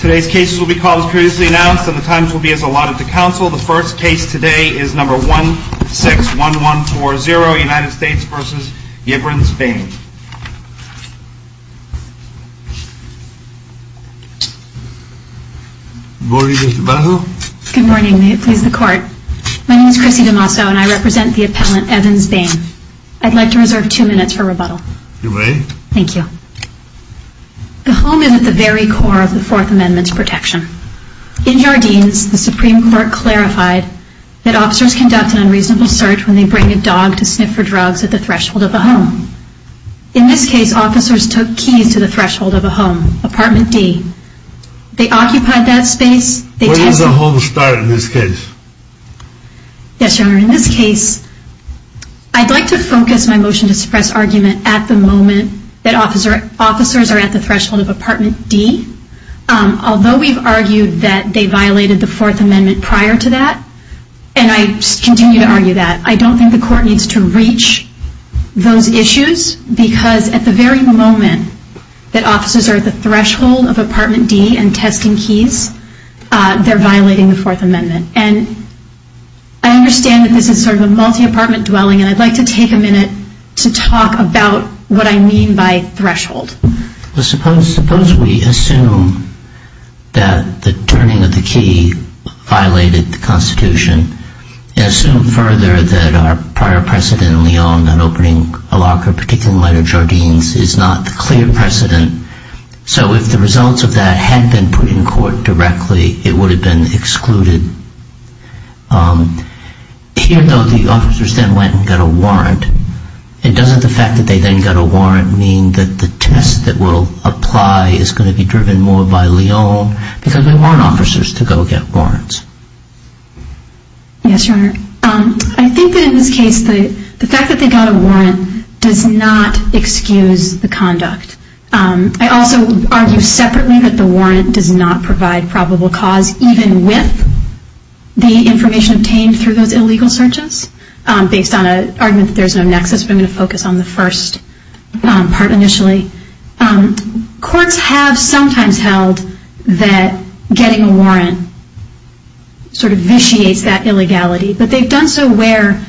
Today's case will be called as previously announced and the times will be as allotted to counsel. The first case today is number 161140, United States v. Evans Bain. Good morning Mr. DeMasso. Good morning, may it please the court. My name is Chrissy DeMasso and I represent the appellant Evans Bain. I'd like to reserve two minutes for rebuttal. You may. Thank you. The home is at the very core of the Fourth Amendment's protection. In Jardines, the Supreme Court clarified that officers conduct an unreasonable search when they bring a dog to sniff for drugs at the threshold of a home. In this case, officers took keys to the threshold of a home, apartment D. They occupied that space. Where does a home start in this case? Yes, Your Honor. In this case, I'd like to focus my motion to suppress argument at the moment that officers are at the threshold of apartment D. Although we've argued that they violated the Fourth Amendment prior to that, and I continue to argue that, I don't think the court needs to reach those issues because at the very moment that officers are at the threshold of apartment D and testing keys, they're violating the Fourth Amendment. And I understand that this is sort of a multi-apartment dwelling, and I'd like to take a minute to talk about what I mean by threshold. Well, suppose we assume that the turning of the key violated the Constitution and assume further that our prior precedent in Lyon on opening a locker, particularly in lighter Jardines, is not the clear precedent. So if the results of that had been put in court directly, it would have been excluded. Here, though, the officers then went and got a warrant. Doesn't the fact that they then got a warrant mean that the test that will apply is going to be driven more by Lyon? Because we want officers to go get warrants. Yes, Your Honor. I think that in this case, the fact that they got a warrant does not excuse the conduct. I also argue separately that the warrant does not provide probable cause, even with the information obtained through those illegal searches, based on an argument that there's no nexus, but I'm going to focus on the first part initially. Courts have sometimes held that getting a warrant sort of vitiates that illegality, but they've done so where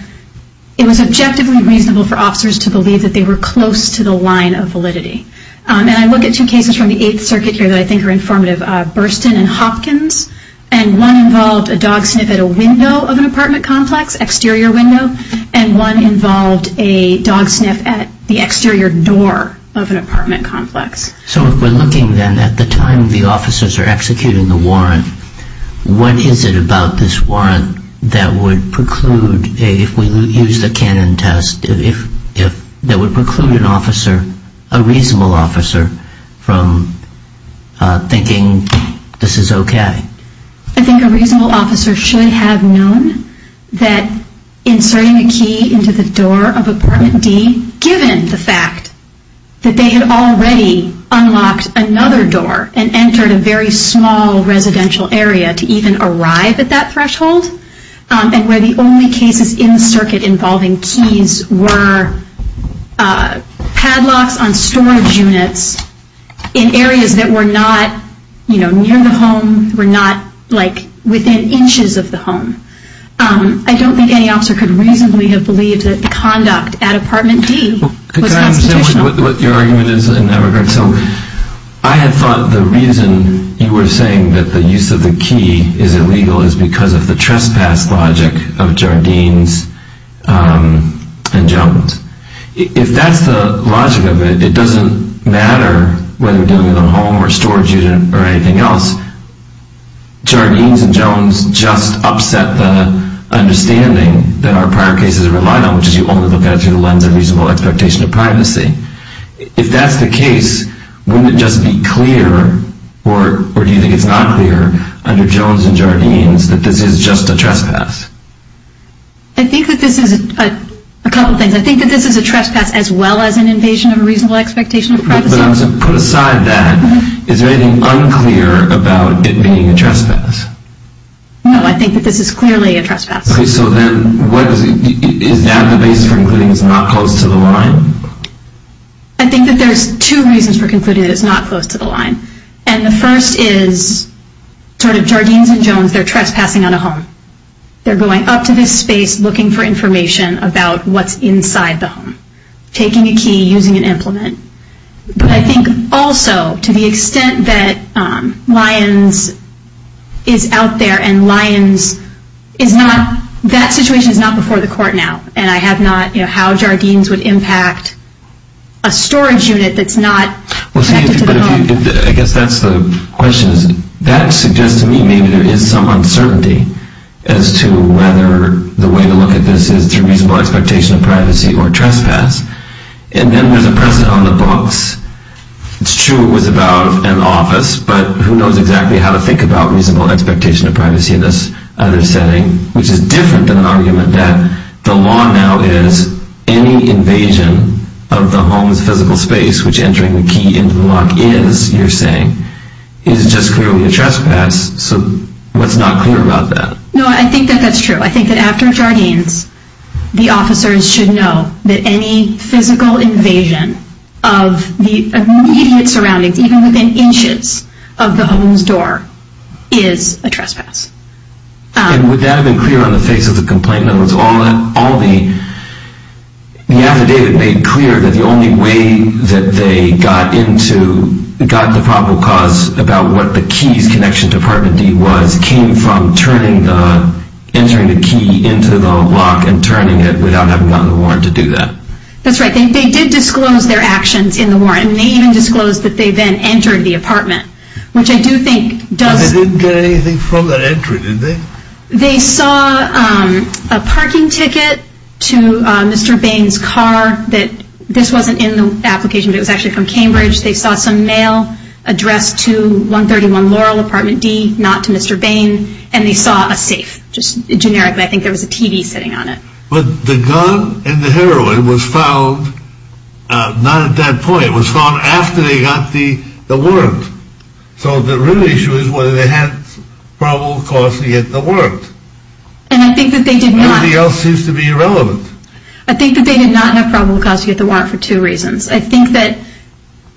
it was objectively reasonable for officers to believe that they were close to the line of validity. And I look at two cases from the Eighth Circuit here that I think are informative, Burstyn and Hopkins, and one involved a dog sniff at a window of an apartment complex, exterior window, and one involved a dog sniff at the exterior door of an apartment complex. So if we're looking then at the time the officers are executing the warrant, what is it about this warrant that would preclude, if we use the Cannon test, that would preclude an officer, a reasonable officer, from thinking this is okay? I think a reasonable officer should have known that inserting a key into the door of apartment D, given the fact that they had already unlocked another door and entered a very small residential area to even arrive at that threshold, and where the only cases in the circuit involving keys were padlocks on storage units in areas that were not, you know, near the home, were not, like, within inches of the home. I don't think any officer could reasonably have believed that the conduct at apartment D was constitutional. Could I understand what your argument is in that regard? So I had thought the reason you were saying that the use of the key is illegal is because of the trespass logic of Jardine's injunctions. If that's the logic of it, it doesn't matter whether we're dealing with a home or storage unit or anything else. Jardine's and Jones just upset the understanding that our prior cases relied on, which is you only look at it through the lens of reasonable expectation of privacy. If that's the case, wouldn't it just be clear, or do you think it's not clear, under Jones and Jardine's that this is just a trespass? I think that this is a couple of things. I think that this is a trespass as well as an invasion of a reasonable expectation of privacy. But put aside that, is there anything unclear about it being a trespass? No, I think that this is clearly a trespass. Okay, so then is that the basis for concluding it's not close to the line? I think that there's two reasons for concluding that it's not close to the line. And the first is, sort of, Jardine's and Jones, they're trespassing on a home. They're going up to this space looking for information about what's inside the home. Taking a key, using an implement. But I think also, to the extent that Lyons is out there and Lyons is not, that situation is not before the court now. And I have not, you know, how Jardine's would impact a storage unit that's not connected to the home. I guess that's the question. That suggests to me maybe there is some uncertainty as to whether the way to look at this is through reasonable expectation of privacy or trespass. And then there's a precedent on the books. It's true it was about an office, but who knows exactly how to think about reasonable expectation of privacy in this other setting, which is different than an argument that the law now is any invasion of the home's physical space, which entering the key into the lock is, you're saying, is just clearly a trespass. So what's not clear about that? No, I think that that's true. I think that after Jardine's, the officers should know that any physical invasion of the immediate surroundings, even within inches of the home's door, is a trespass. And would that have been clear on the face of the complaint? The affidavit made clear that the only way that they got the probable cause about what the key's connection to apartment D was came from entering the key into the lock and turning it without having gotten a warrant to do that. That's right. They did disclose their actions in the warrant, and they even disclosed that they then entered the apartment, which I do think does... But they didn't get anything from that entry, did they? They saw a parking ticket to Mr. Bain's car. This wasn't in the application, but it was actually from Cambridge. They saw some mail addressed to 131 Laurel, apartment D, not to Mr. Bain, and they saw a safe, just generically. I think there was a TV sitting on it. But the gun and the heroin was found not at that point. It was found after they got the warrant. So the real issue is whether they had probable cause to get the warrant. And I think that they did not. Everything else seems to be irrelevant. I think that they did not have probable cause to get the warrant for two reasons. I think that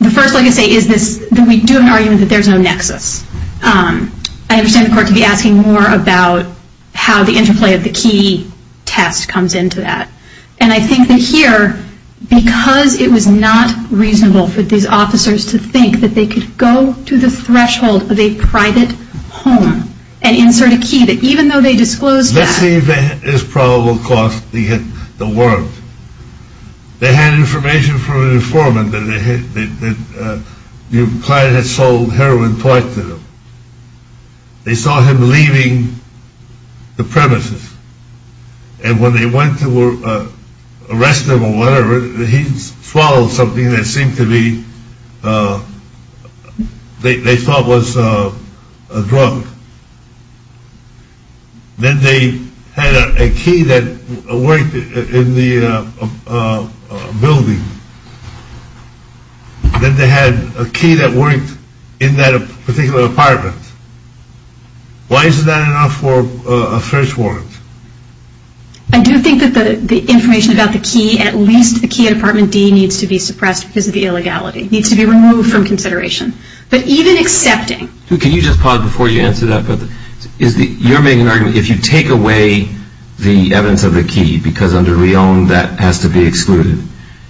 the first, like I say, is that we do have an argument that there's no nexus. I understand the court could be asking more about how the interplay of the key test comes into that. And I think that here, because it was not reasonable for these officers to think that they could go to the threshold of a private home and insert a key, that even though they disclosed that. Let's see if there's probable cause to get the warrant. They had information from an informant that the client had sold heroin twice to them. They saw him leaving the premises. And when they went to arrest him or whatever, he swallowed something that seemed to be, they thought was a drug. Then they had a key that worked in the building. Then they had a key that worked in that particular apartment. Why isn't that enough for a thresh warrant? I do think that the information about the key, at least the key at apartment D needs to be suppressed because of the illegality. It needs to be removed from consideration. But even accepting. Can you just pause before you answer that? You're making an argument, if you take away the evidence of the key, because under Reown that has to be excluded,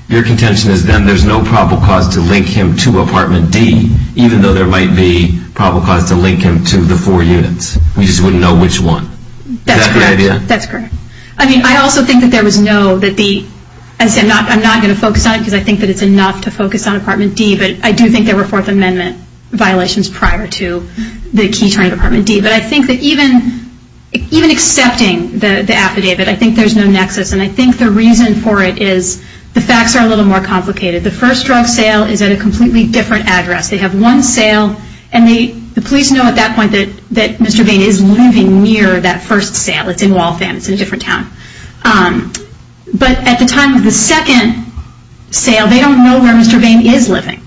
your contention is then there's no probable cause to link him to apartment D, even though there might be probable cause to link him to the four units. We just wouldn't know which one. That's correct. I also think that there was no, I'm not going to focus on it because I think it's enough to focus on apartment D, but I do think there were Fourth Amendment violations prior to the key turning to apartment D. But I think that even accepting the affidavit, I think there's no nexus. And I think the reason for it is the facts are a little more complicated. The first drug sale is at a completely different address. They have one sale. And the police know at that point that Mr. Bain is living near that first sale. It's in Waltham. It's in a different town. But at the time of the second sale, they don't know where Mr. Bain is living.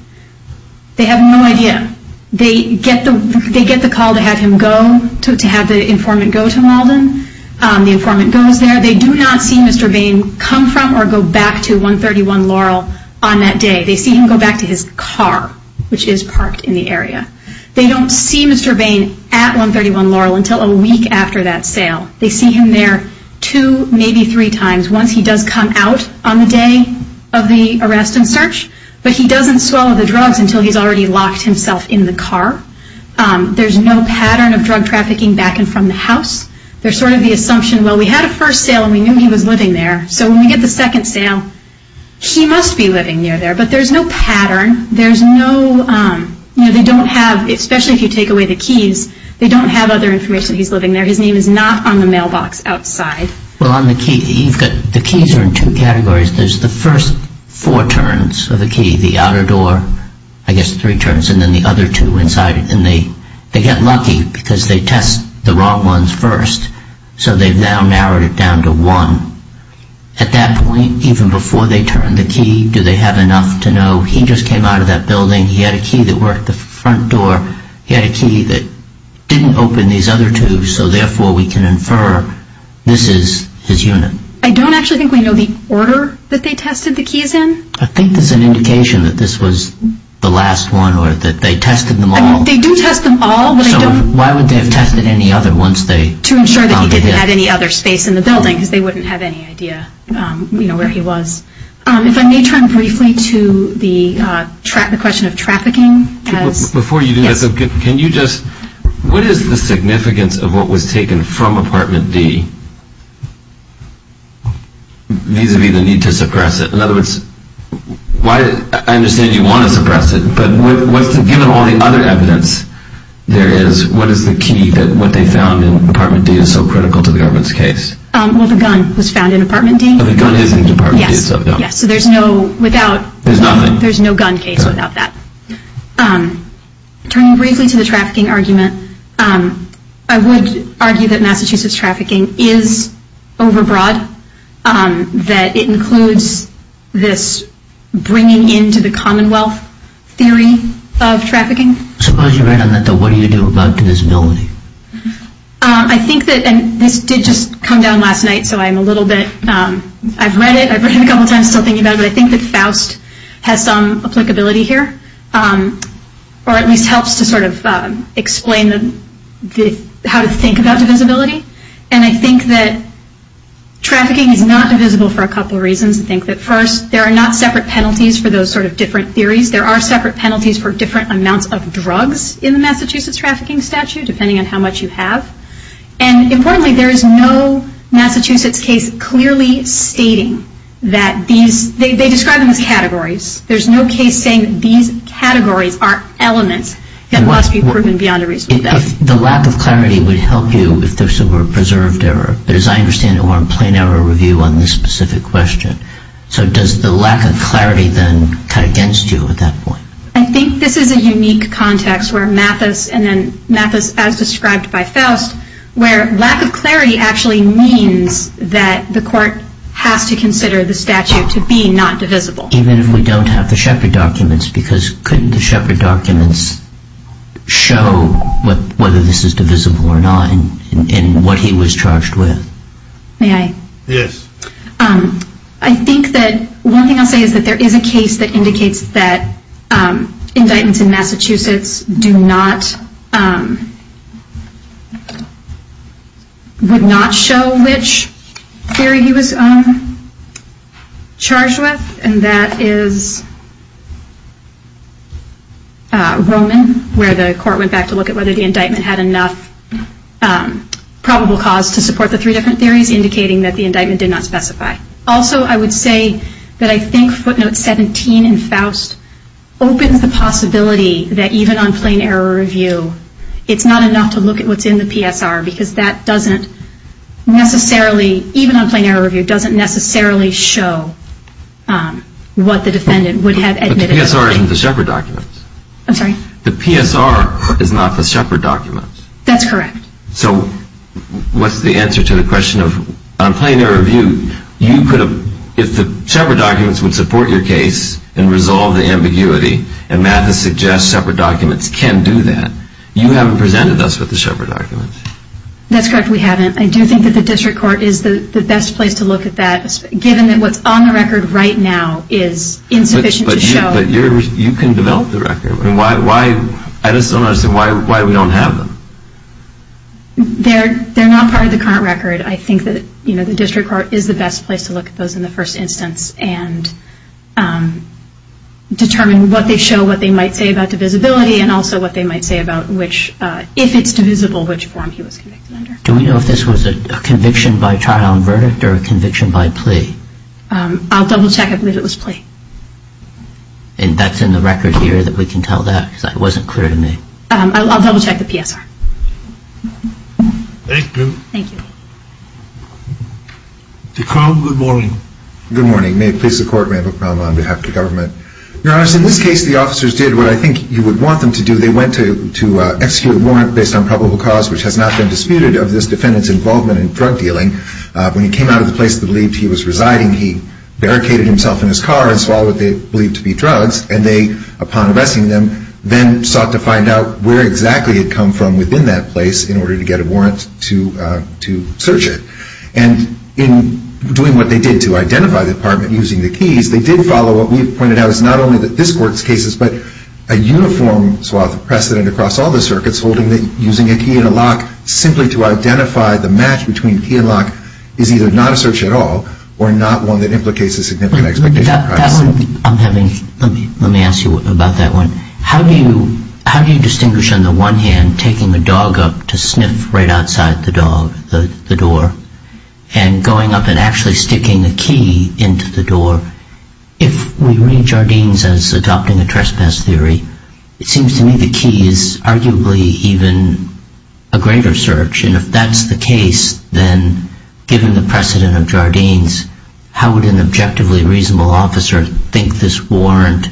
They have no idea. They get the call to have him go, to have the informant go to Malden. The informant goes there. They do not see Mr. Bain come from or go back to 131 Laurel on that day. They see him go back to his car, which is parked in the area. They don't see Mr. Bain at 131 Laurel until a week after that sale. They see him there two, maybe three times. Once he does come out on the day of the arrest and search, but he doesn't swallow the drugs until he's already locked himself in the car. There's no pattern of drug trafficking back and from the house. There's sort of the assumption, well, we had a first sale and we knew he was living there. So when we get the second sale, he must be living near there. But there's no pattern. There's no, you know, they don't have, especially if you take away the keys, they don't have other information that he's living there. His name is not on the mailbox outside. Well, on the key, the keys are in two categories. There's the first four turns of the key, the outer door, I guess three turns, and then the other two inside. And they get lucky because they test the wrong ones first. So they've now narrowed it down to one. At that point, even before they turn the key, do they have enough to know, he just came out of that building, he had a key that worked the front door, he had a key that didn't open these other two, so therefore we can infer this is his unit. I don't actually think we know the order that they tested the keys in. I think there's an indication that this was the last one or that they tested them all. They do test them all. So why would they have tested any other once they found him? To ensure that he didn't have any other space in the building because they wouldn't have any idea where he was. If I may turn briefly to the question of trafficking. Before you do that, can you just, what is the significance of what was taken from Apartment D vis-à-vis the need to suppress it? In other words, I understand you want to suppress it, but given all the other evidence there is, what is the key that what they found in Apartment D is so critical to the government's case? Well, the gun was found in Apartment D. The gun is in Apartment D. Yes. So there's no without. There's nothing. There's no gun case without that. Turning briefly to the trafficking argument, I would argue that Massachusetts trafficking is overbroad, that it includes this bringing into the Commonwealth theory of trafficking. Suppose you're right on that, though. What do you do about divisibility? I think that, and this did just come down last night, so I'm a little bit, I've read it, I've read it a couple of times still thinking about it, but I think that Faust has some applicability here, or at least helps to sort of explain how to think about divisibility. And I think that trafficking is not divisible for a couple of reasons. I think that first, there are not separate penalties for those sort of different theories. There are separate penalties for different amounts of drugs in the Massachusetts trafficking statute, depending on how much you have. And importantly, there is no Massachusetts case clearly stating that these, they describe them as categories. There's no case saying that these categories are elements that must be proven beyond a reasonable doubt. The lack of clarity would help you if there were preserved error. But as I understand it, we're on plain error review on this specific question. So does the lack of clarity then cut against you at that point? I think this is a unique context where Mathis, and then Mathis as described by Faust, where lack of clarity actually means that the court has to consider the statute to be not divisible. Even if we don't have the Shepard documents, because couldn't the Shepard documents show whether this is divisible or not in what he was charged with? May I? Yes. I think that one thing I'll say is that there is a case that indicates that indictments in Massachusetts do not, would not show which theory he was charged with. And that is Roman, where the court went back to look at whether the indictment had enough probable cause to support the three different theories, indicating that the indictment did not specify. Also, I would say that I think footnote 17 in Faust opens the possibility that even on plain error review it's not enough to look at what's in the PSR because that doesn't necessarily, even on plain error review, doesn't necessarily show what the defendant would have admitted. But the PSR isn't the Shepard documents. I'm sorry? The PSR is not the Shepard documents. That's correct. So what's the answer to the question of, on plain error review, you could have, if the Shepard documents would support your case and resolve the ambiguity, and Mathis suggests Shepard documents can do that, you haven't presented us with the Shepard documents. That's correct, we haven't. I do think that the district court is the best place to look at that, given that what's on the record right now is insufficient to show. But you can develop the record. I just don't understand why we don't have them. They're not part of the current record. I think that the district court is the best place to look at those in the first instance and determine what they show, what they might say about divisibility, and also what they might say about which, if it's divisible, which form he was convicted under. Do we know if this was a conviction by trial and verdict or a conviction by plea? I'll double-check. I believe it was plea. And that's in the record here that we can tell that? Because that wasn't clear to me. I'll double-check the PSR. Thank you. Thank you. Mr. Cromb, good morning. Good morning. May it please the Court, Randall Cromb on behalf of the government. Your Honor, in this case the officers did what I think you would want them to do. They went to execute a warrant based on probable cause, which has not been disputed of this defendant's involvement in drug dealing. When he came out of the place that he believed he was residing, he barricaded himself in his car and swallowed what they believed to be drugs, and they, upon arresting them, then sought to find out where exactly he had come from within that place in order to get a warrant to search it. And in doing what they did to identify the apartment using the keys, they did follow what we've pointed out is not only that this Court's cases, but a uniform swath of precedent across all the circuits holding that using a key and a lock simply to identify the match between key and lock is either not a search at all or not one that implicates a significant expectation of privacy. Let me ask you about that one. How do you distinguish, on the one hand, taking a dog up to sniff right outside the door and going up and actually sticking a key into the door? If we read Jardines as adopting a trespass theory, it seems to me the key is arguably even a greater search. And if that's the case, then given the precedent of Jardines, how would an objectively reasonable officer think this warrant?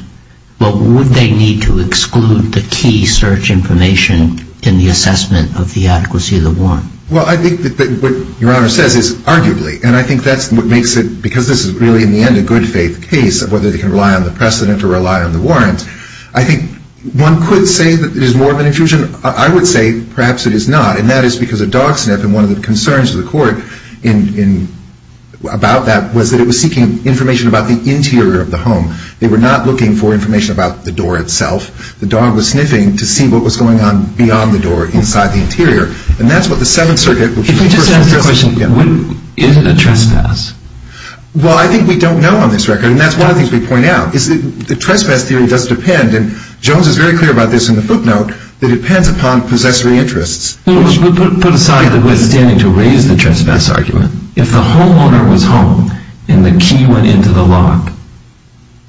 Would they need to exclude the key search information in the assessment of the adequacy of the warrant? Well, I think that what Your Honor says is arguably, and I think that's what makes it, because this is really in the end a good-faith case of whether they can rely on the precedent or rely on the warrant, I think one could say that it is more of an infusion. I would say perhaps it is not, and that is because a dog sniff, and one of the concerns of the court about that was that it was seeking information about the interior of the home. They were not looking for information about the door itself. The dog was sniffing to see what was going on beyond the door, inside the interior. And that's what the Seventh Circuit... If we just ask the question, is it a trespass? Well, I think we don't know on this record, and that's one of the things we point out, is that the trespass theory does depend, and Jones is very clear about this in the footnote, that it depends upon possessory interests. We put aside the withstanding to raise the trespass argument. If the homeowner was home and the key went into the lock,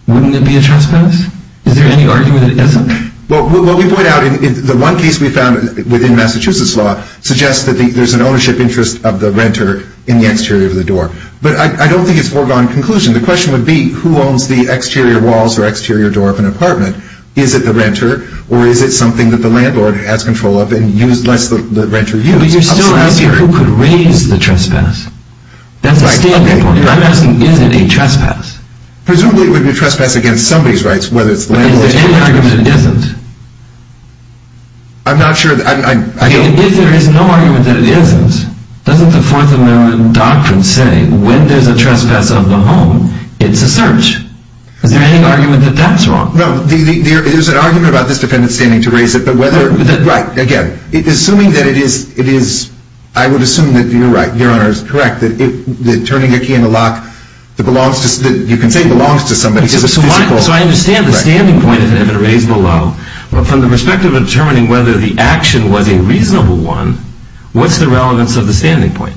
wouldn't it be a trespass? Is there any argument that it isn't? Well, what we point out in the one case we found within Massachusetts law suggests that there's an ownership interest of the renter in the exterior of the door. But I don't think it's foregone conclusion. The question would be, who owns the exterior walls or exterior door of an apartment? Is it the renter, or is it something that the landlord has control of and lets the renter use? But you're still asking who could raise the trespass. That's a standard point. I'm asking, is it a trespass? Presumably it would be a trespass against somebody's rights, whether it's the landlord... But is there any argument that it isn't? I'm not sure... If there is no argument that it isn't, doesn't the Fourth Amendment doctrine say when there's a trespass of the home, it's a search? Is there any argument that that's wrong? No, there's an argument about this defendant standing to raise it, but whether... Right, again, assuming that it is... I would assume that you're right, Your Honor, it's correct, that turning a key in the lock that belongs to... You can say it belongs to somebody, because it's a physical... So I understand the standing point of it being raised below. But from the perspective of determining whether the action was a reasonable one, what's the relevance of the standing point?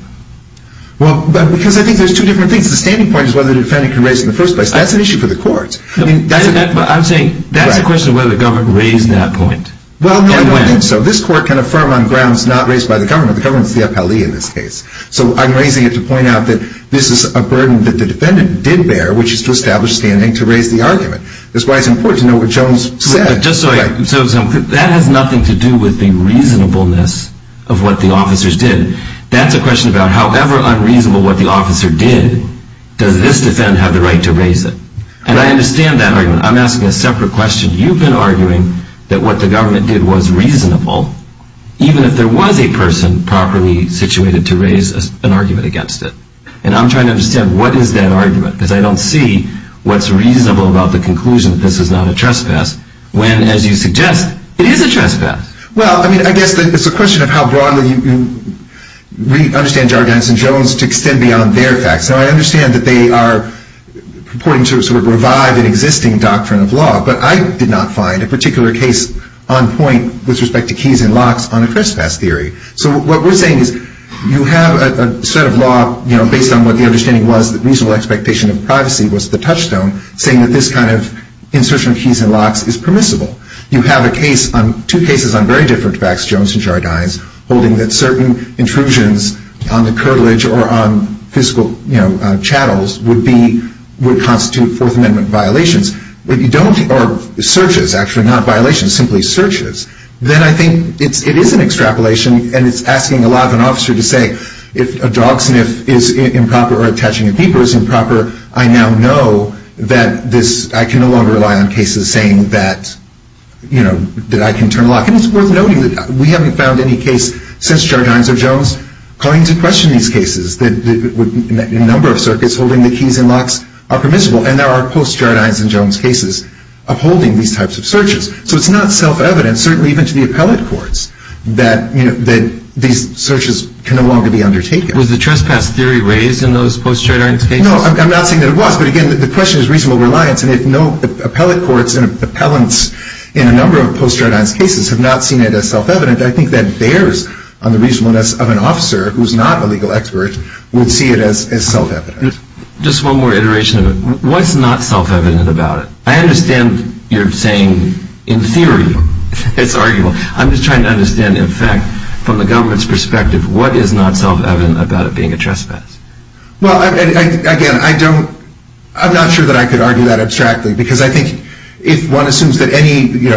Well, because I think there's two different things. The standing point is whether the defendant can raise it in the first place. That's an issue for the courts. I'm saying that's a question of whether the government raised that point. Well, I don't think so. This Court can affirm on grounds not raised by the government. The government's the appellee in this case. So I'm raising it to point out that this is a burden that the defendant did bear, which is to establish standing to raise the argument. That's why it's important to know what Jones said. So that has nothing to do with the reasonableness of what the officers did. That's a question about however unreasonable what the officer did, does this defendant have the right to raise it? And I understand that argument. I'm asking a separate question. You've been arguing that what the government did was reasonable, even if there was a person properly situated to raise an argument against it. And I'm trying to understand what is that argument, because I don't see what's reasonable about the conclusion that this is not a trespass, when, as you suggest, it is a trespass. Well, I guess it's a question of how broadly you understand Jardines and Jones to extend beyond their facts. Now, I understand that they are purporting to sort of revive an existing doctrine of law, but I did not find a particular case on point with respect to keys and locks on a trespass theory. So what we're saying is you have a set of law based on what the understanding was that reasonable expectation of privacy was the touchstone, saying that this kind of insertion of keys and locks is permissible. You have two cases on very different facts, Jones and Jardines, holding that certain intrusions on the curtilage or on physical chattels would constitute Fourth Amendment violations. Or searches, actually, not violations, simply searches. Then I think it is an extrapolation, and it's asking a lot of an officer to say, if a dog sniff is improper or attaching a beeper is improper, I now know that I can no longer rely on cases saying that I can turn a lock. And it's worth noting that we haven't found any case since Jardines or Jones calling into question these cases that a number of circuits holding the keys and locks are permissible, and there are post-Jardines and Jones cases upholding these types of searches. So it's not self-evident, certainly even to the appellate courts, that these searches can no longer be undertaken. Was the trespass theory raised in those post-Jardines cases? No, I'm not saying that it was, but, again, the question is reasonable reliance, and if no appellate courts and appellants in a number of post-Jardines cases have not seen it as self-evident, I think that bears on the reasonableness of an officer who's not a legal expert would see it as self-evident. Just one more iteration of it. What's not self-evident about it? I understand you're saying, in theory, it's arguable. I'm just trying to understand, in fact, from the government's perspective, what is not self-evident about it being a trespass? Well, again, I'm not sure that I could argue that abstractly because I think if one assumes that any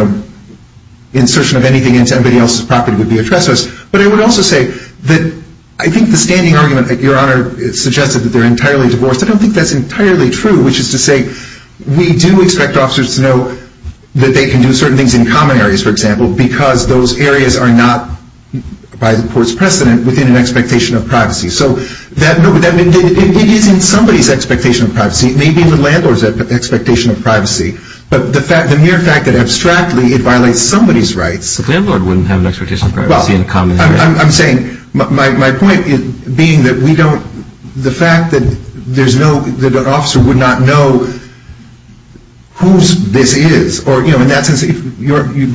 insertion of anything into anybody else's property would be a trespass, but I would also say that I think the standing argument, Your Honor, suggested that they're entirely divorced. I don't think that's entirely true, which is to say we do expect officers to know that they can do certain things in common areas, for example, because those areas are not, by the court's precedent, within an expectation of privacy. So it is in somebody's expectation of privacy. It may be in the landlord's expectation of privacy, but the mere fact that abstractly it violates somebody's rights. The landlord wouldn't have an expectation of privacy in common areas. Well, I'm saying, my point being that we don't, the fact that there's no, that an officer would not know whose this is, or, you know, in that sense,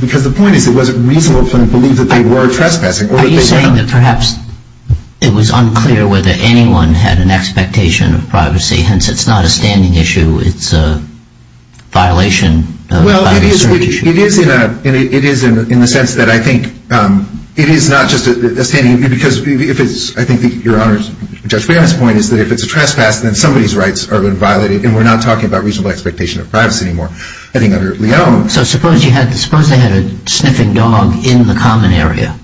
because the point is it wasn't reasonable to believe that they were trespassing. Are you saying that perhaps it was unclear whether anyone had an expectation of privacy, hence it's not a standing issue, it's a violation? Well, it is in the sense that I think it is not just a standing, because if it's, I think, Your Honor, Judge Baird's point is that if it's a trespass, then somebody's rights are being violated, and we're not talking about reasonable expectation of privacy anymore. I think under Leone. So suppose you had, suppose they had a sniffing dog in the common area.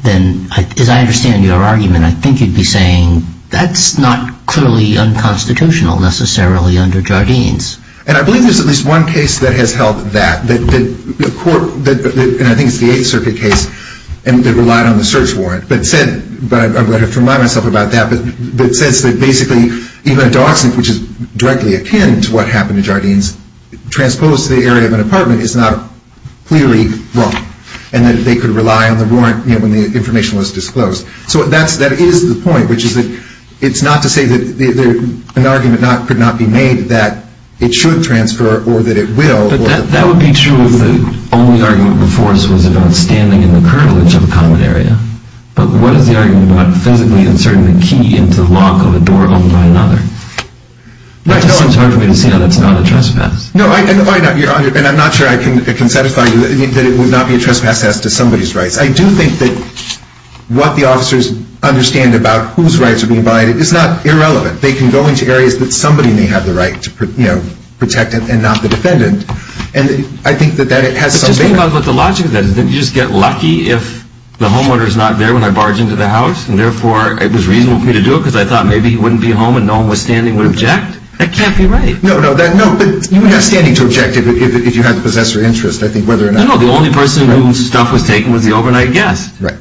Then, as I understand your argument, I think you'd be saying that's not clearly unconstitutional necessarily under Jardines. And I believe there's at least one case that has held that, that the court, and I think it's the Eighth Circuit case, that relied on the search warrant, but said, but I'm going to have to remind myself about that, but it says that basically even a dog sniff, which is directly akin to what happened to Jardines, transposed to the area of an apartment is not clearly wrong, and that they could rely on the warrant, you know, when the information was disclosed. So that is the point, which is that it's not to say that an argument could not be made that it should transfer or that it will. But that would be true if the only argument before us was about standing in the curvilege of a common area. But what is the argument about physically inserting the key into the lock of a door owned by another? It's hard for me to see how that's not a trespass. No, and I'm not sure I can satisfy you that it would not be a trespass as to somebody's rights. I do think that what the officers understand about whose rights are being violated is not irrelevant. They can go into areas that somebody may have the right to protect and not the defendant, and I think that it has some bearing. But just think about what the logic of that is. Didn't you just get lucky if the homeowner is not there when I barge into the house, and therefore it was reasonable for me to do it because I thought maybe he wouldn't be home and no one standing would object? That can't be right. No, no, but you would have standing to object if you had the possessor interest, I think, whether or not... No, no, the only person whose stuff was taken was the overnight guest. Right.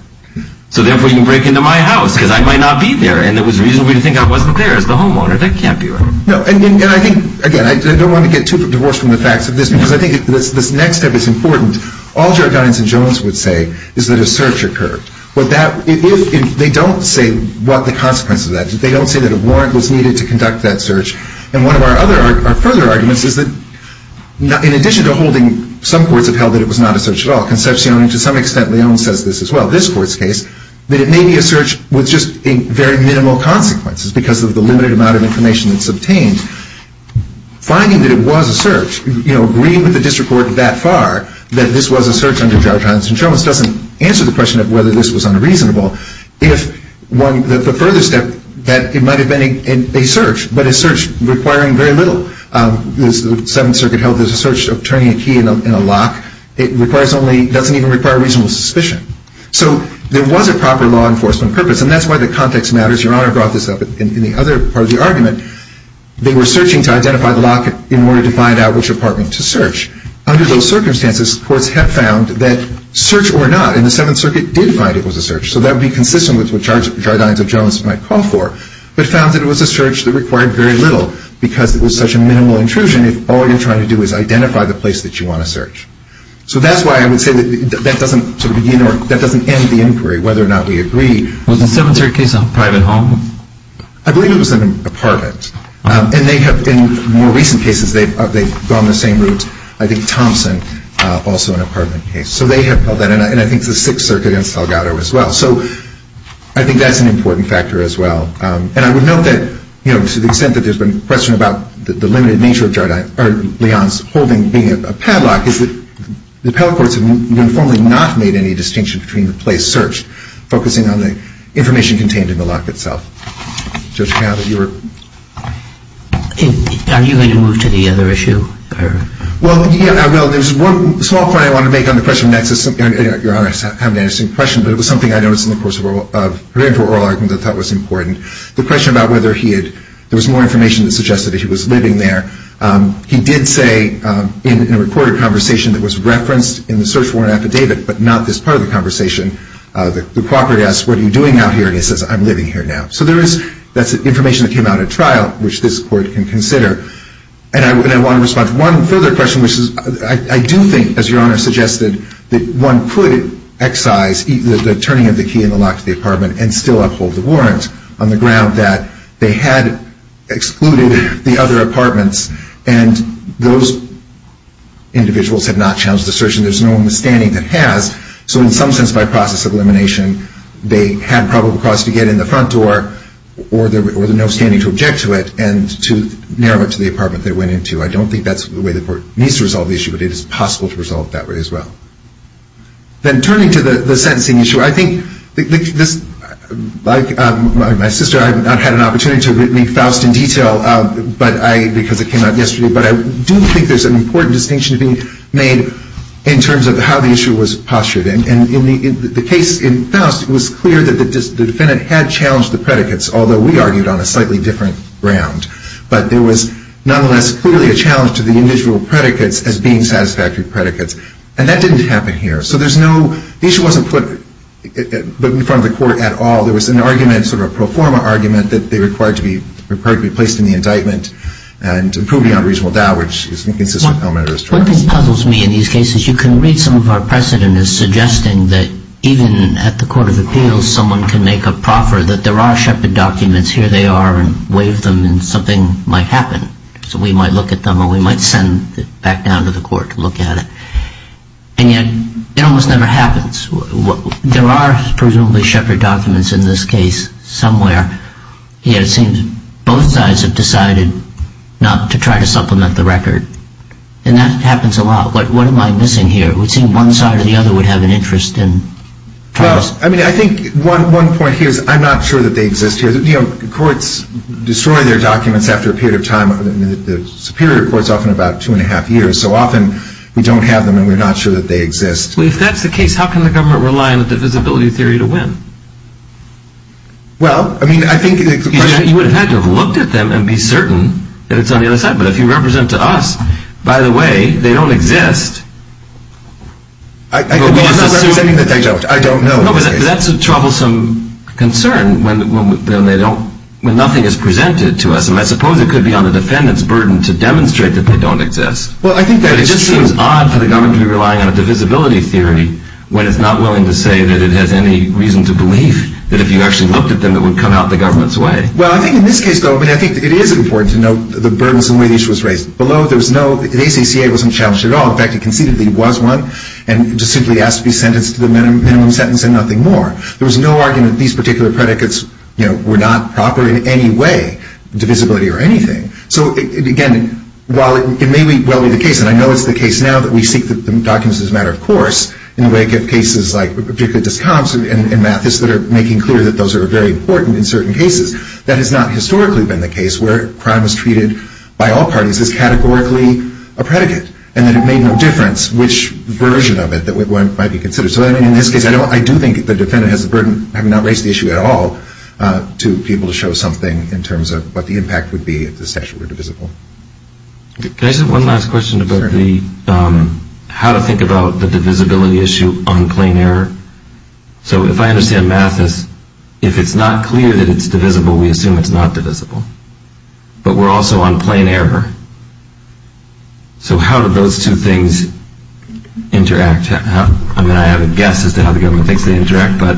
So therefore you can break into my house because I might not be there and it was reasonable to think I wasn't there as the homeowner. That can't be right. No, and I think, again, I don't want to get too divorced from the facts of this because I think this next step is important. All Jargonians and Jones would say is that a search occurred. They don't say what the consequence of that is. They don't say that a warrant was needed to conduct that search. And one of our further arguments is that in addition to holding, some courts have held that it was not a search at all, Concepcion and to some extent Leon says this as well, this court's case, that it may be a search with just very minimal consequences because of the limited amount of information that's obtained. Finding that it was a search, agreeing with the district court that far that this was a search under Jargonians and Jones doesn't answer the question of whether this was unreasonable. The further step that it might have been a search, but a search requiring very little. The Seventh Circuit held there's a search of turning a key in a lock. It doesn't even require reasonable suspicion. So there was a proper law enforcement purpose, and that's why the context matters. Your Honor brought this up in the other part of the argument. They were searching to identify the lock in order to find out which apartment to search. Under those circumstances, courts have found that search or not, and the Seventh Circuit did find it was a search, so that would be consistent with what Jargonians and Jones might call for, but found that it was a search that required very little because it was such a minimal intrusion if all you're trying to do is identify the place that you want to search. So that's why I would say that doesn't end the inquiry whether or not we agree. Was the Seventh Circuit case a private home? I believe it was an apartment. And in more recent cases, they've gone the same route. I think Thompson, also an apartment case. So they have held that, and I think the Sixth Circuit and Salgado as well. So I think that's an important factor as well. And I would note that to the extent that there's been question about the limited nature of Leon's holding being a padlock is that the appellate courts have informally not made any distinction between the place searched, focusing on the information contained in the lock itself. Judge Cowley, you were... Are you going to move to the other issue? Well, yeah, I will. There's one small point I want to make on the question of nexus. Your Honor, I have an interesting question, but it was something I noticed in the course of her inter-oral argument that I thought was important. The question about whether he had... There was more information that suggested that he was living there. He did say in a recorded conversation that was referenced in the search warrant affidavit, but not this part of the conversation, the property asked, what are you doing out here? And he says, I'm living here now. So there is... That's information that came out at trial, which this court can consider. And I want to respond to one further question, which is I do think, as Your Honor suggested, that one could excise the turning of the key in the lock to the apartment and still uphold the warrant on the ground that they had excluded the other apartments and those individuals had not challenged the search and there's no one in the standing that has. So in some sense, by process of elimination, they had probable cause to get in the front door or there was no standing to object to it and to narrow it to the apartment they went into. I don't think that's the way the court needs to resolve the issue, but it is possible to resolve that way as well. Then turning to the sentencing issue, I think this... Like my sister, I have not had an opportunity to read Faust in detail, because it came out yesterday, but I do think there's an important distinction to be made in terms of how the issue was postured. And in the case in Faust, it was clear that the defendant had challenged the predicates, although we argued on a slightly different ground. But there was, nonetheless, clearly a challenge to the individual predicates as being satisfactory predicates. And that didn't happen here. So there's no... The issue wasn't put in front of the court at all. There was an argument, sort of a pro forma argument, that they required to be placed in the indictment and to prove beyond reasonable doubt, What puzzles me in these cases, you can read some of our precedent as suggesting that even at the court of appeals, someone can make a proffer that there are Shepard documents, here they are, and waive them and something might happen. So we might look at them or we might send it back down to the court to look at it. And yet, it almost never happens. There are presumably Shepard documents in this case somewhere, yet it seems both sides have decided not to try to supplement the record. And that happens a lot. What am I missing here? It would seem one side or the other would have an interest in... Well, I mean, I think one point here is I'm not sure that they exist here. Courts destroy their documents after a period of time. The Superior Court is often about two and a half years, so often we don't have them and we're not sure that they exist. Well, if that's the case, how can the government rely on the divisibility theory to win? Well, I mean, I think... You would have had to have looked at them and be certain that it's on the other side. But if you represent to us, by the way, they don't exist. I'm not representing that they don't. I don't know. That's a troublesome concern when nothing is presented to us. And I suppose it could be on the defendant's burden to demonstrate that they don't exist. Well, I think that... It just seems odd for the government to be relying on a divisibility theory when it's not willing to say that it has any reason to believe that if you actually looked at them, it would come out the government's way. Well, I think in this case, though, I mean, I think it is important to note the burdensome way the issue was raised. Below, there was no... The ACCA wasn't challenged at all. In fact, it conceivably was one and just simply asked to be sentenced to the minimum sentence and nothing more. There was no argument that these particular predicates, you know, were not proper in any way, divisibility or anything. So, again, while it may well be the case, and I know it's the case now that we seek the documents as a matter of course in the wake of cases like particular discounts and math that are making clear that those are very important in certain cases, that has not historically been the case where crime is treated by all parties as categorically a predicate and that it made no difference which version of it that might be considered. So, I mean, in this case, I do think the defendant has the burden of not raising the issue at all to be able to show something in terms of what the impact would be if the statute were divisible. Can I just have one last question about the... Sure. How to think about the divisibility issue on plain error? So, if I understand Mathis, if it's not clear that it's divisible, we assume it's not divisible. But we're also on plain error. So, how do those two things interact? I mean, I have a guess as to how the government thinks they interact, but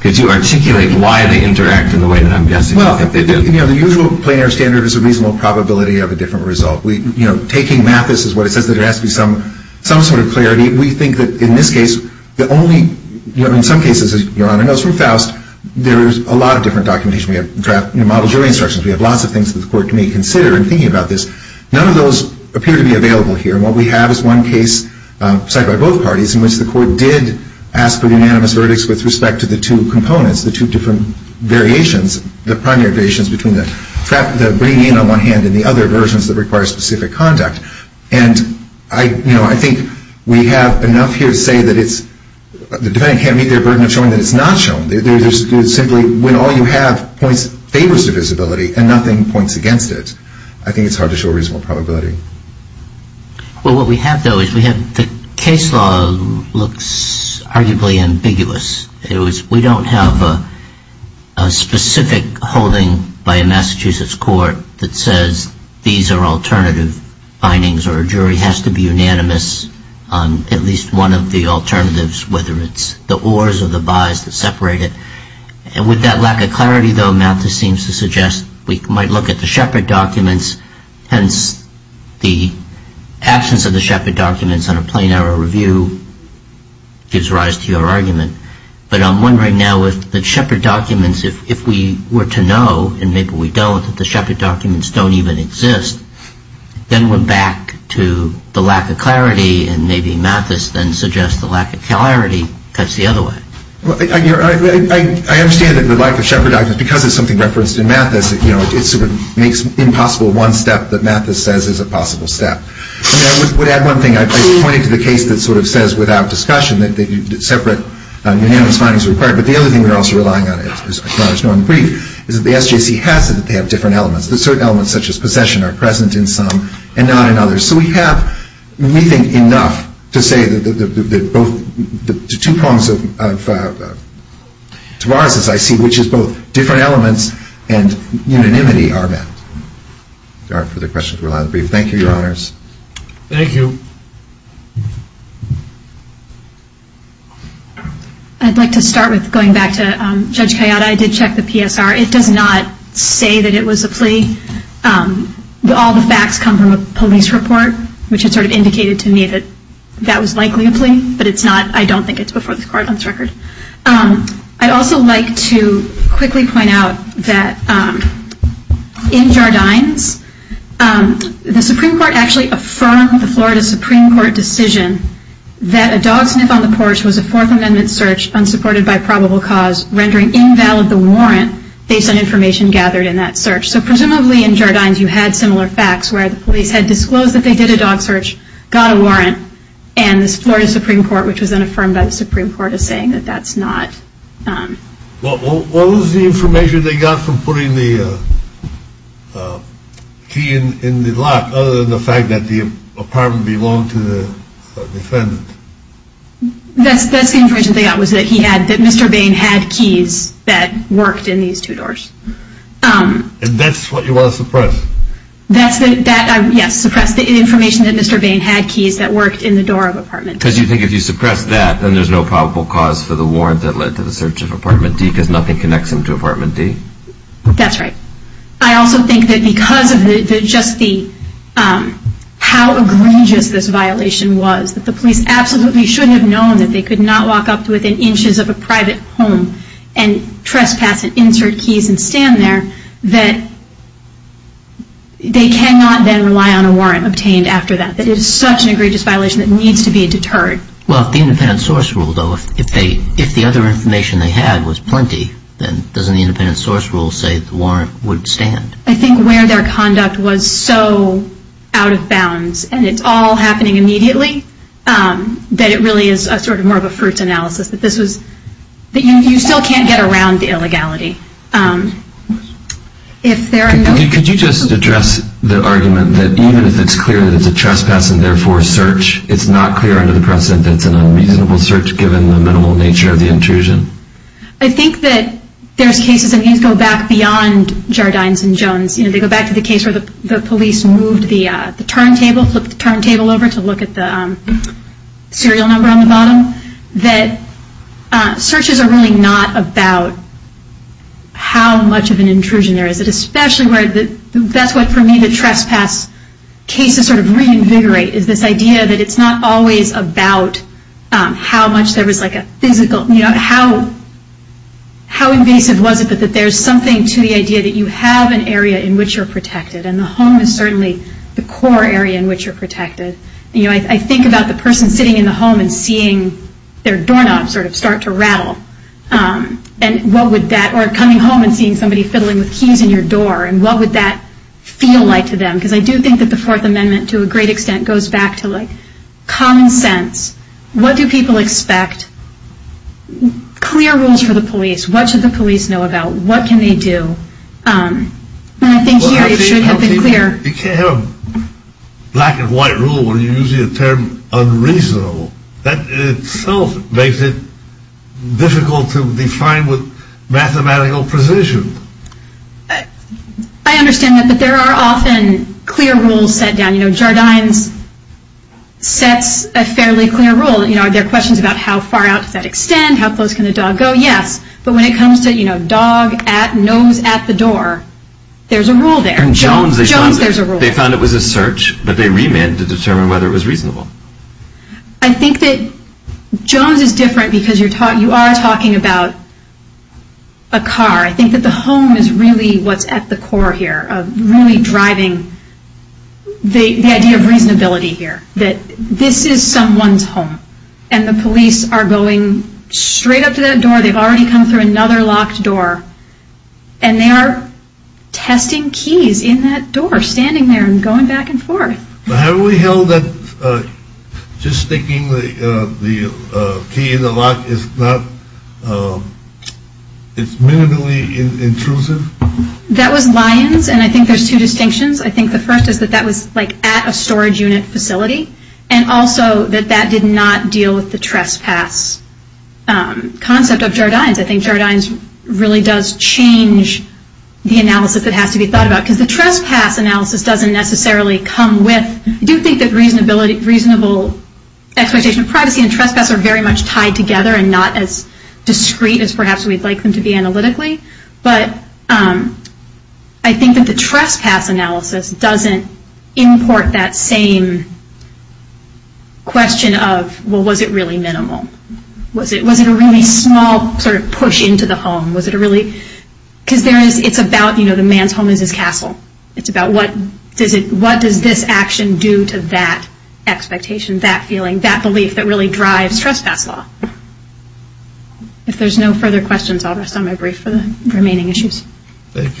could you articulate why they interact in the way that I'm guessing? Well, you know, the usual plain error standard is a reasonable probability of a different result. You know, taking Mathis as what it says that there has to be some sort of clarity, we think that in this case, the only... You know, in some cases, as Your Honor knows from Faust, there is a lot of different documentation. We have draft... You know, model jury instructions. We have lots of things that the court may consider in thinking about this. None of those appear to be available here. And what we have is one case cited by both parties in which the court did ask for the unanimous verdicts with respect to the two components, the two different variations, the primary variations between the bringing in on one hand and the other versions that require specific conduct. And I... You know, I think we have enough here to say that it's... The defendant can't meet their burden of showing that it's not shown. There's simply... When all you have points... Favors the visibility and nothing points against it. I think it's hard to show a reasonable probability. Well, what we have, though, is we have... The case law looks arguably ambiguous. It was... We don't have a specific holding by a Massachusetts court that says these are alternative findings or a jury has to be unanimous on at least one of the alternatives, whether it's the or's or the by's that separate it. And with that lack of clarity, though, Malthus seems to suggest we might look at the Shepard documents, hence the absence of the Shepard documents on a plain-error review gives rise to your argument. But I'm wondering now if the Shepard documents, if we were to know, and maybe we don't, if we were to know that the Shepard documents don't even exist, then we're back to the lack of clarity and maybe Malthus then suggests the lack of clarity cuts the other way. I understand that the lack of Shepard documents, because it's something referenced in Malthus, it sort of makes impossible one step that Malthus says is a possible step. I would add one thing. I pointed to the case that sort of says without discussion that separate unanimous findings are required, but the other thing we're also relying on, is that the SJC has said that they have different elements, that certain elements such as possession are present in some and not in others. So we have, we think, enough to say that the two prongs of Tavares' I see, which is both different elements and unanimity are met. If there aren't further questions, we'll end the brief. Thank you, Your Honors. Thank you. I'd like to start with going back to Judge Kayada. I did check the PSR. It does not say that it was a plea. All the facts come from a police report, which had sort of indicated to me that that was likely a plea, but it's not, I don't think it's before the court on this record. I'd also like to quickly point out that in Jardines, the Supreme Court actually affirmed the Florida Supreme Court decision that a dog sniff on the porch was a Fourth Amendment search unsupported by probable cause, rendering invalid the warrant based on information gathered in that search. So presumably in Jardines, you had similar facts where the police had disclosed that they did a dog search, got a warrant, and the Florida Supreme Court, which was then affirmed by the Supreme Court, is saying that that's not. Well, what was the information they got from putting the key in the lock other than the fact that the apartment belonged to the defendant? That's the information they got was that Mr. Bain had keys that worked in these two doors. And that's what you want to suppress? Yes, suppress the information that Mr. Bain had keys that worked in the door of apartment D. Because you think if you suppress that, then there's no probable cause for the warrant that led to the search of apartment D because nothing connects him to apartment D? That's right. I also think that because of just how egregious this violation was, that the police absolutely shouldn't have known that they could not walk up to within inches of a private home and trespass and insert keys and stand there, that they cannot then rely on a warrant obtained after that. It is such an egregious violation that needs to be deterred. Well, if the independent source ruled, though, if the other information they had was plenty, then doesn't the independent source rule say the warrant would stand? I think where their conduct was so out of bounds, and it's all happening immediately, that it really is sort of more of a fruits analysis. You still can't get around the illegality. Could you just address the argument that even if it's clear that it's a trespass and therefore search, it's not clear under the precedent that it's an unreasonable search given the minimal nature of the intrusion? I think that there's cases that go back beyond Jardines and Jones. They go back to the case where the police moved the turntable, flipped the turntable over to look at the serial number on the bottom, that searches are really not about how much of an intrusion there is. Especially where, that's what for me the trespass cases sort of reinvigorate, is this idea that it's not always about how much there was like a physical, how invasive was it that there's something to the idea that you have an area in which you're protected, and the home is certainly the core area in which you're protected. I think about the person sitting in the home and seeing their doorknob sort of start to rattle. And what would that, or coming home and seeing somebody fiddling with keys in your door, and what would that feel like to them? Because I do think that the Fourth Amendment to a great extent goes back to like common sense. What do people expect? Clear rules for the police. What should the police know about? What can they do? And I think here it should have been clear. You can't have a black and white rule where you're using a term unreasonable. That itself makes it difficult to define with mathematical precision. I understand that, but there are often clear rules set down. You know, Jardines sets a fairly clear rule. You know, are there questions about how far out does that extend? How close can the dog go? Yes. But when it comes to, you know, dog at, nose at the door, there's a rule there. And Jones, Jones, there's a rule. They found it was a search, but they remanded to determine whether it was reasonable. I think that Jones is different because you are talking about a car. I think that the home is really what's at the core here of really driving the idea of reasonability here. That this is someone's home. And the police are going straight up to that door. They've already come through another locked door. And they are testing keys in that door, standing there and going back and forth. But have we held that just sticking the key in the lock is not, it's minimally intrusive? That was Lyons, and I think there's two distinctions. I think the first is that that was like at a storage unit facility. And also that that did not deal with the trespass concept of Jardines. I think Jardines really does change the analysis that has to be thought about. Because the trespass analysis doesn't necessarily come with, I do think that reasonable expectation of privacy and trespass are very much tied together and not as discreet as perhaps we'd like them to be analytically. But I think that the trespass analysis doesn't import that same question of well was it really minimal? Was it a really small sort of push into the home? Was it a really, because there is, it's about the man's home is his castle. It's about what does this action do to that expectation, that feeling, that belief that really drives trespass law. If there's no further questions I'll rest on my brief for the remaining issues. Thank you.